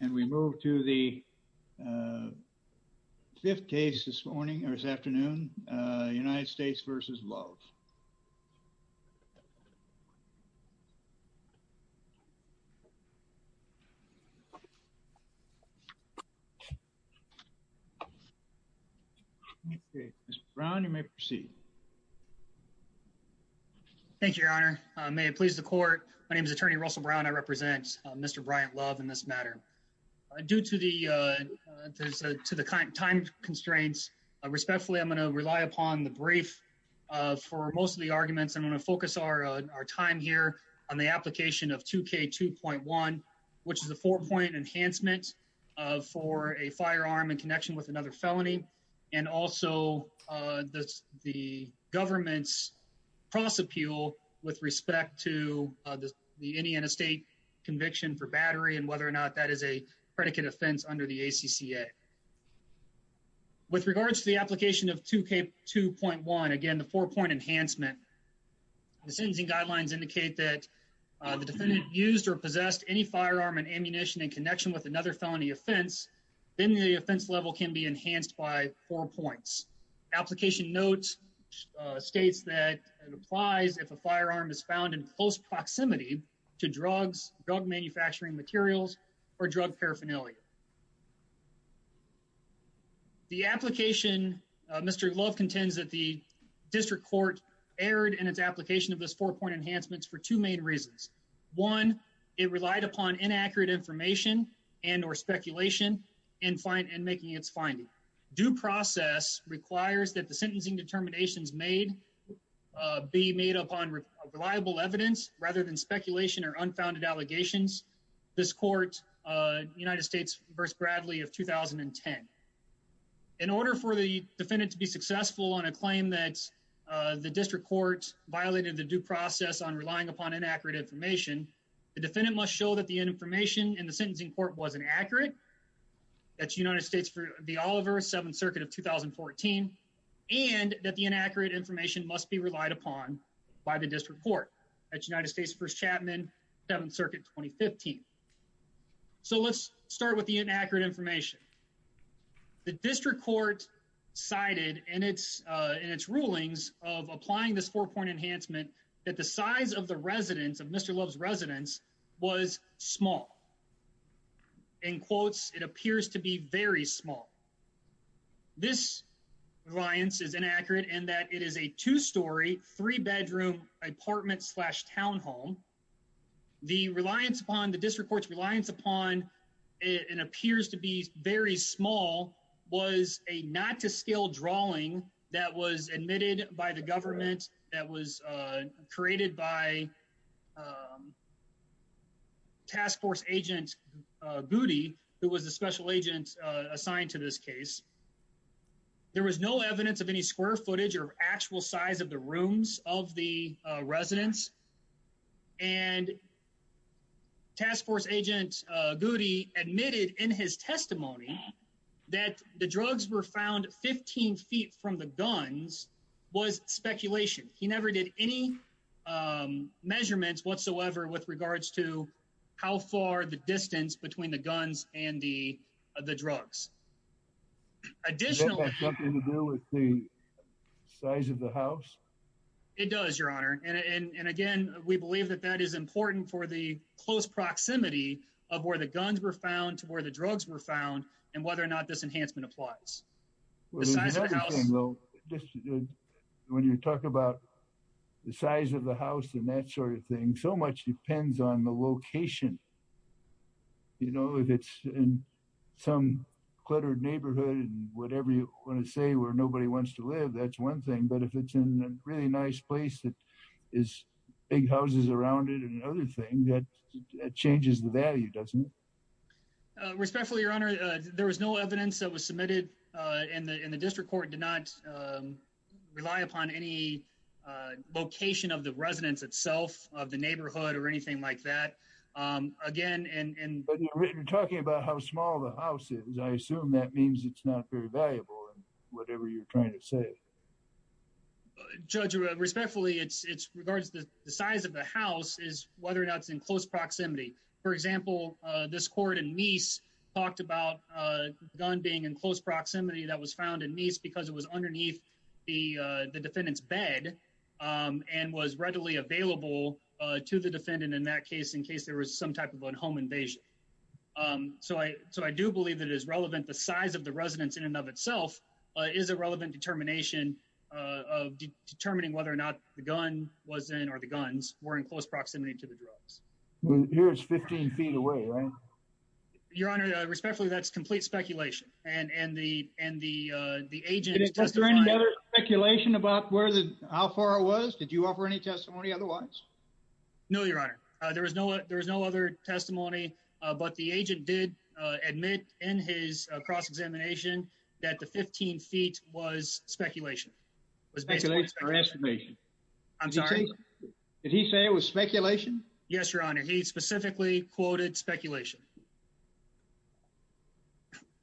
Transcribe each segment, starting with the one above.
and we move to the uh fifth case this morning or this afternoon uh United States v. Love. Okay Mr. Brown you may proceed. Thank you your honor. May it please the court my name is attorney Russell Brown. I represent Mr. Bryant Love in this matter. Due to the time constraints respectfully I'm going to rely upon the brief for most of the arguments. I'm going to focus our time here on the application of 2k 2.1 which is a four-point enhancement for a firearm in connection with another felony and also uh the the government's cross appeal with respect to the Indiana state conviction for battery and whether or not that is a predicate offense under the ACCA. With regards to the application of 2k 2.1 again the four-point enhancement the sentencing guidelines indicate that the defendant used or possessed any firearm and four points. Application notes states that it applies if a firearm is found in close proximity to drugs drug manufacturing materials or drug paraphernalia. The application Mr. Love contends that the district court erred in its application of this four-point enhancements for two main reasons. One it relied upon inaccurate information and or speculation in fine and making its finding. Due process requires that the sentencing determinations made be made upon reliable evidence rather than speculation or unfounded allegations. This court uh United States versus Bradley of 2010. In order for the defendant to be successful on a claim that the district court violated the due process on relying upon inaccurate information the defendant must show that the information in the sentencing court wasn't accurate. That's United States for the Oliver 7th circuit of 2014 and that the inaccurate information must be relied upon by the district court at United States first Chapman 7th circuit 2015. So let's start with the inaccurate information. The district court cited in its uh in its rulings of applying this four-point enhancement that the size of the residence of Mr. Love's residence was small. In quotes it appears to be very small. This reliance is inaccurate in that it is a two-story three-bedroom apartment slash townhome. The reliance upon the district court's reliance upon it appears to be very small was a not to scale drawing that was admitted by the government that was uh created by um task force agent uh booty who was a special agent uh assigned to this case. There was no evidence of any square footage or actual size of the rooms of the residence and task force agent uh Goody admitted in his testimony that the drugs were found 15 feet from the guns was speculation. He never did any um measurements whatsoever with regards to how far the distance between the guns and the the drugs. Additionally something to do with the size of the house. It does your honor and and again we believe that that is important for the close proximity of where the guns were found to where the drugs were found and whether or not this enhancement applies. The size of the house. When you talk about the size of the house and that sort of thing so much depends on the location. You know if it's in some cluttered but if it's in a really nice place that is big houses around it and another thing that changes the value doesn't it respectfully your honor there was no evidence that was submitted uh in the in the district court did not rely upon any uh location of the residence itself of the neighborhood or anything like that um again and but you're talking about how small the house is I assume that means it's not very valuable and whatever you're trying to say judge respectfully it's it's regards to the size of the house is whether or not it's in close proximity. For example uh this court in Meese talked about uh gun being in close proximity that was found in Meese because it was underneath the uh the defendant's bed um and was readily available uh to the defendant in that case in case there was some type of a home invasion. Um so I so I do believe that it is relevant the size of the residence in and of itself is a relevant determination uh of determining whether or not the gun was in or the guns were in close proximity to the drugs. Here it's 15 feet away right? Your honor respectfully that's complete speculation and and the and the uh the agent. Is there any other speculation about where the how far it was did you offer any testimony otherwise? No your honor uh there was no there was no other testimony uh but the agent did uh admit in his cross-examination that the 15 feet was speculation. Speculation or estimation? I'm sorry did he say it was speculation? Yes your honor he specifically quoted speculation.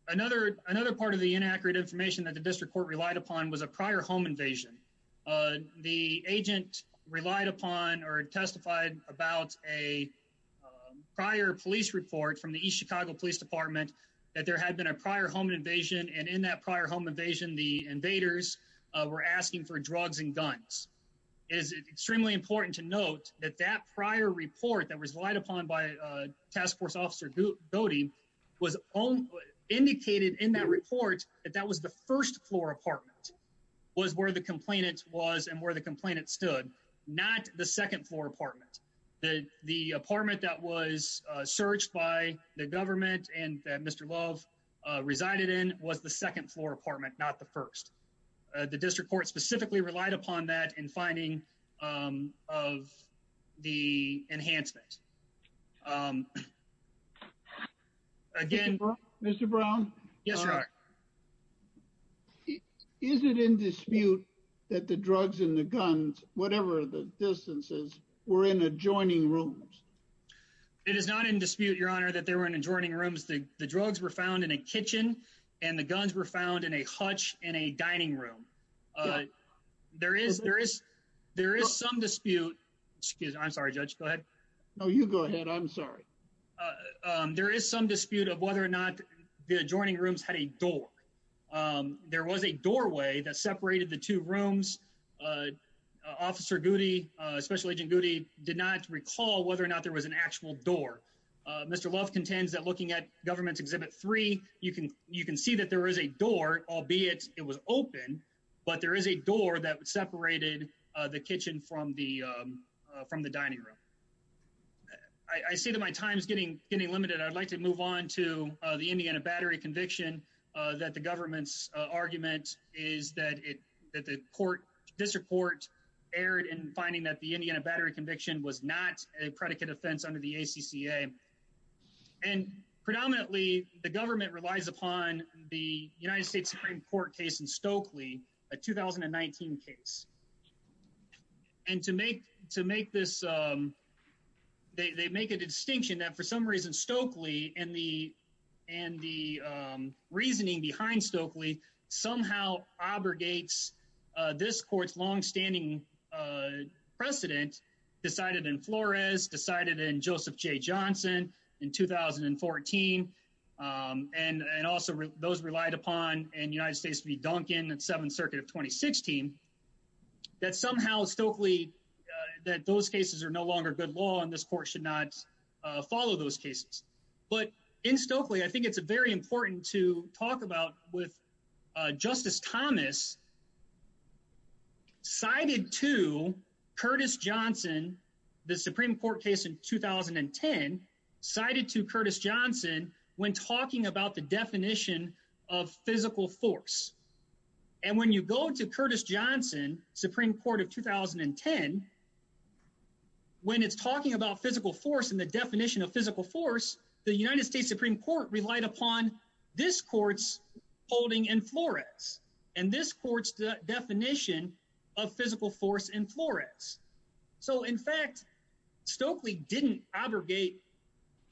Another another part of the inaccurate information that the district court relied upon was a prior home invasion. Uh the agent relied upon or testified about a prior police report from the East Chicago Police Department that there had been a prior home invasion and in that prior home invasion the invaders were asking for drugs and guns. It is extremely important to note that that prior report that was relied upon by a task force officer was indicated in that report that that was the first floor apartment was where the the the apartment that was uh searched by the government and that Mr. Love uh resided in was the second floor apartment not the first. Uh the district court specifically relied upon that in finding um of the enhancement. Um again Mr. Brown? Yes your honor. Is it in dispute that the drugs and the guns whatever the distances were in adjoining rooms? It is not in dispute your honor that they were in adjoining rooms. The the drugs were found in a kitchen and the guns were found in a hutch in a dining room. Uh there is there is there is some dispute excuse me I'm sorry judge go ahead. No you go ahead I'm sorry. Uh um there is some dispute of whether or not the adjoining rooms had a door. Um there was a doorway that separated the two rooms uh officer Goody uh special agent Goody did not recall whether or not there was an actual door. Uh Mr. Love contends that looking at government's exhibit three you can you can see that there is a door albeit it was open but there is a door that separated uh the kitchen from the um from the dining room. I I see that my time is getting getting limited. I'd like to move on to uh the Indiana battery conviction uh that the government's uh argument is that it that the court district court erred in finding that the Indiana battery conviction was not a predicate offense under the ACCA. And predominantly the government relies upon the United States Supreme Court case in Stokely a 2019 case. And to make to make this um they they make a distinction that for some reason Stokely and the and the um reasoning behind Stokely somehow obligates uh this court's long-standing uh precedent decided in Flores decided in Joseph J Johnson in 2014 um and and also those relied upon in United States v Duncan and Seventh Circuit of 2016 that somehow Stokely that those cases are no longer good law and this court should not uh follow those cases. But in Stokely I think it's very important to talk about with uh Justice Thomas cited to Curtis Johnson the Supreme Court case in 2010 cited to Curtis Johnson when talking about the definition of physical force. And when you go to Curtis Johnson Supreme Court of 2010 when it's talking about physical force and the definition of physical force the United States Supreme Court relied upon this court's holding in Flores and this court's definition of physical force in Flores. So in fact Stokely didn't abrogate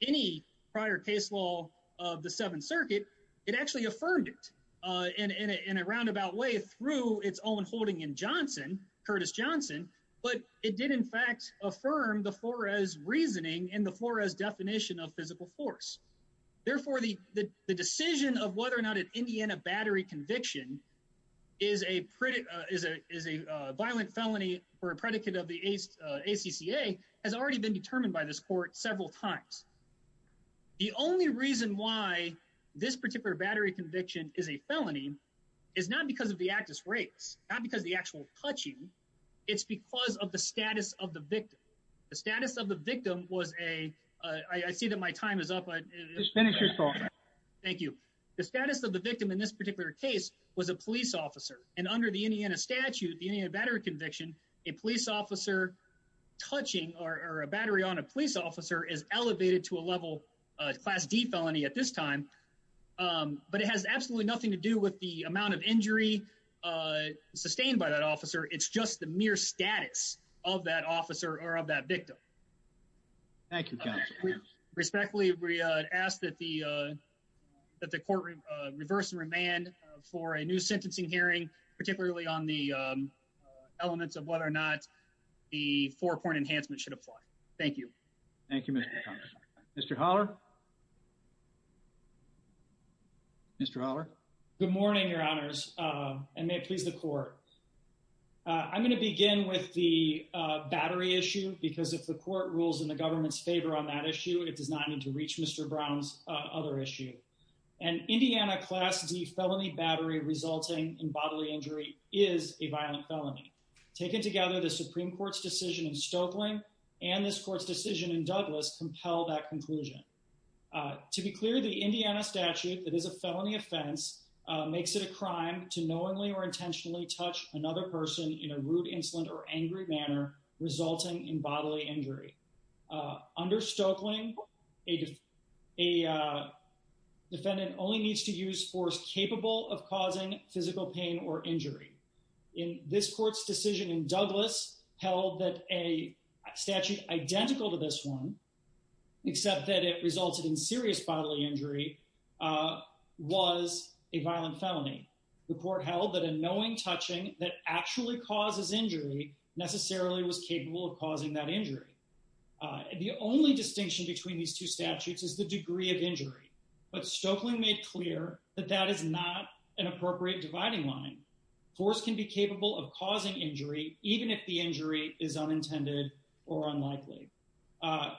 any prior case law of the Seventh Circuit. It actually affirmed it uh in in a roundabout way through its own holding in Johnson, Curtis Johnson, but it did in fact affirm the Flores reasoning and the Flores definition of physical force. Therefore the the decision of whether or not an Indiana battery conviction is a pretty uh is a is a uh violent felony for a predicate of the ACCA has already been determined by this court several times. The only reason why this particular battery conviction is a felony is not because of the actus rex, not because the actual touching, it's because of the status of the victim. The status of the victim was a uh I see that my time is up. Just finish your talk. Thank you. The status of the victim in this particular case was a police officer and under the Indiana statute, the Indiana battery conviction, a police officer touching or a battery on a police officer is elevated to a level uh class d felony at this time um but it has absolutely nothing to do with the amount of injury uh sustained by that officer. It's just the mere status of that officer or of that victim. Thank you. Respectfully we uh asked that the uh that the courtroom uh reverse and for a new sentencing hearing particularly on the um uh elements of whether or not the four point enhancement should apply. Thank you. Thank you. Mr. Holler. Mr. Holler. Good morning your honors uh and may it please the court. I'm going to begin with the uh battery issue because if the court rules in the government's favor on that issue it does not to reach Mr. Brown's uh other issue. An Indiana class d felony battery resulting in bodily injury is a violent felony. Taken together the Supreme Court's decision in Stokely and this court's decision in Douglas compel that conclusion. Uh to be clear the Indiana statute that is a felony offense uh makes it a crime to knowingly or intentionally touch another person in a rude insolent or angry manner resulting in bodily injury. Uh under Stokeling a defendant only needs to use force capable of causing physical pain or injury. In this court's decision in Douglas held that a statute identical to this one except that it resulted in serious bodily injury uh was a violent felony. The court held that a knowing touching that actually causes injury necessarily was capable of causing that injury. Uh the only distinction between these two statutes is the degree of injury but Stokeling made clear that that is not an appropriate dividing line. Force can be capable of causing injury even if the injury is unintended or unlikely. Uh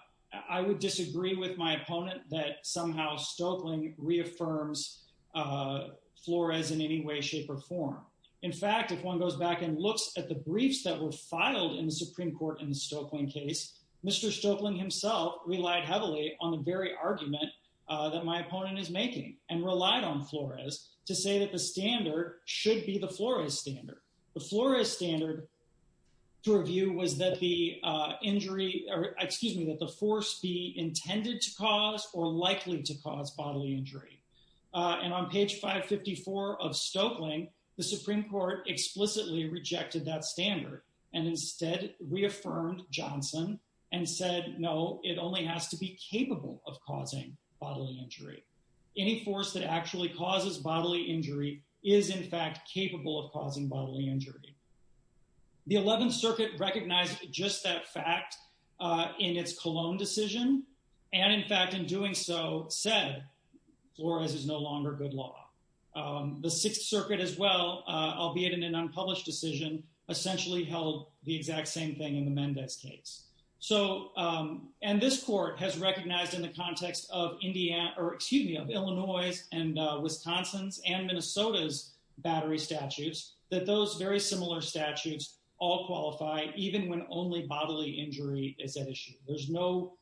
I would disagree with my opponent that somehow Stokeling reaffirms uh Flores in any way shape or form. In fact if one goes back and looks at the briefs that were filed in the Supreme Court in the Stokeling case Mr. Stokeling himself relied heavily on the very argument uh that my opponent is making and relied on Flores to say that the standard should be the Flores standard. The Flores standard to review was that the uh injury or excuse me that the force be intended to cause or likely to cause bodily injury. Uh and on page 554 of Stokeling the Supreme Court explicitly rejected that standard and instead reaffirmed Johnson and said no it only has to be capable of causing bodily injury. Any force that actually causes bodily injury is in fact capable of causing bodily injury. The 11th circuit recognized just that fact uh in its Colon decision and in fact in doing so said Flores is no longer good law. Um the 6th circuit as well uh albeit in an unpublished decision essentially held the exact same thing in the Mendez case. So um and this court has recognized in the context of Indiana or excuse me of Illinois and Wisconsin's and Minnesota's battery statutes that those very similar statutes all qualify even when only bodily injury is at issue. There's no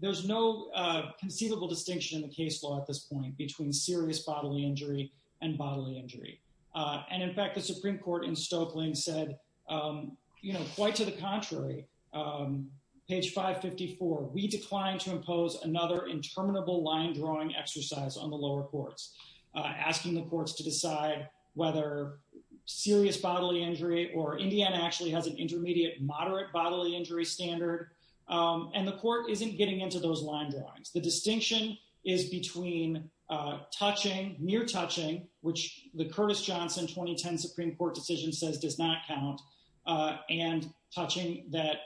there's no uh conceivable distinction in the case law at this point between serious bodily injury and bodily injury. Uh and in fact the Supreme Court in Stokeling said um you know quite to the contrary um page 554 we declined to impose another interminable line drawing exercise on the lower courts uh asking the courts to decide whether serious bodily injury or Indiana actually has an intermediate moderate bodily injury standard um and the court isn't getting into those line drawings. The distinction is between uh touching near touching which the Curtis Johnson 2010 Supreme Court decision says does not count uh and touching that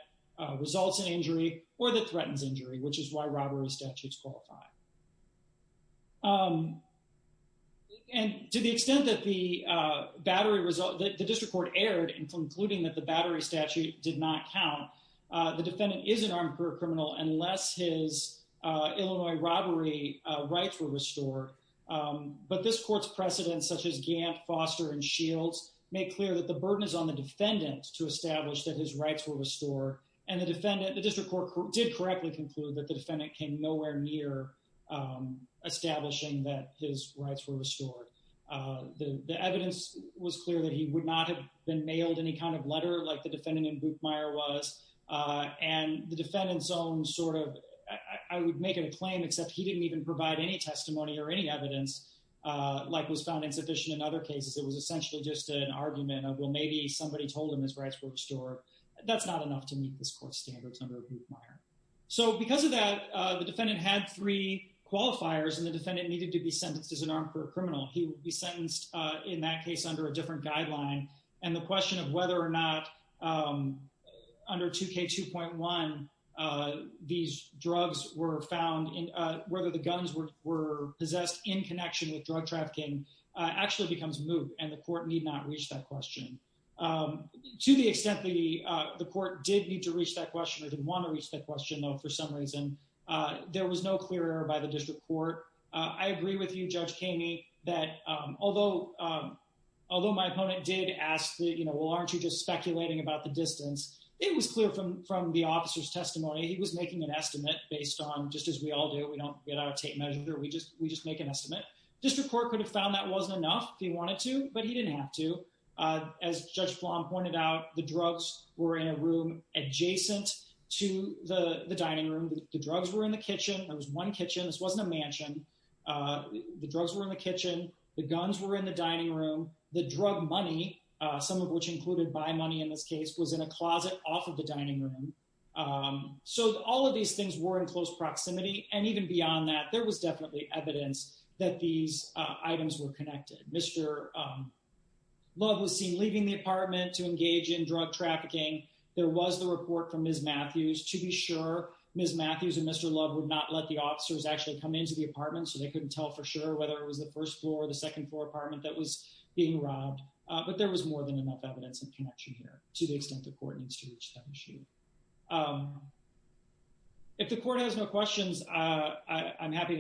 results in injury or threatens injury which is why robbery statutes qualify. Um and to the extent that the uh battery result that the district court erred in concluding that the battery statute did not count uh the defendant is an armed career criminal unless his uh Illinois robbery uh rights were restored. Um but this court's precedents such as Gantt, Foster, and Shields make clear that the burden is on the defendant to establish that his rights were restored and the defendant the district court did correctly conclude that the defendant came nowhere near um establishing that his rights were restored. Uh the the evidence was clear that he would not have been mailed any kind of letter like the defendant in Buchmeier was uh and the defendant's own sort of I would make it a claim except he didn't even provide any testimony or any evidence uh like was found insufficient in other cases. It was essentially just an argument of well maybe somebody told him his rights were restored that's not enough to meet this court standards under Buchmeier. So because of that uh the defendant had three qualifiers and the defendant needed to be sentenced as an armed career criminal he would be sentenced uh in that case under a different guideline and the question of whether or not um under 2k 2.1 uh these drugs were found in uh whether the guns were were possessed in connection with drug trafficking uh actually becomes moot and the court need not reach that question. Um to the extent the uh the court did need to reach that question or didn't want to reach that question though for some reason uh there was no clear error by the district court. Uh I agree with you Judge Kamey that um although um although my opponent did ask that you know well aren't you just speculating about the distance it was clear from from the officer's testimony he was making an estimate based on just as we all do we don't get out of tape measure we just we just make an estimate district court could have found that wasn't enough if he wanted to but he didn't have to uh as Judge Flom pointed out the drugs were in a room adjacent to the the dining room the drugs were in the kitchen there was one kitchen this wasn't a mansion uh the drugs were in the kitchen the guns were in the dining room the drug money uh some of which included by money in this case was in a closet off of the dining room um so all of these things were in close proximity and even beyond that there was definitely evidence that these uh items were connected. Mr. um Love was seen leaving the apartment to engage in drug trafficking there was the report from Ms. Matthews to be sure Ms. Matthews and Mr. Love would not let the officers actually come into the apartment so they couldn't tell for sure whether it was the first floor or the second floor apartment that was being robbed uh but there was more than enough evidence in connection here to the extent the court needs to reach that machine. Um if the court has no questions uh I'm happy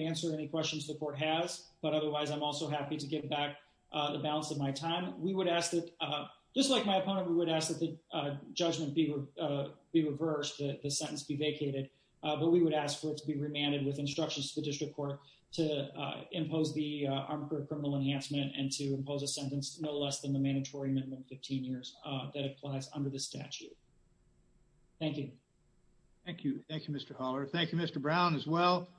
to get back uh the balance of my time we would ask that uh just like my opponent we would ask that the uh judgment be uh be reversed the sentence be vacated uh but we would ask for it to be remanded with instructions to the district court to uh impose the uh armed criminal enhancement and to impose a sentence no less than the mandatory minimum 15 years uh that applies under the statute. Thank you. Thank you. Thank you Mr. Haller. Thank you Mr. Brown as well.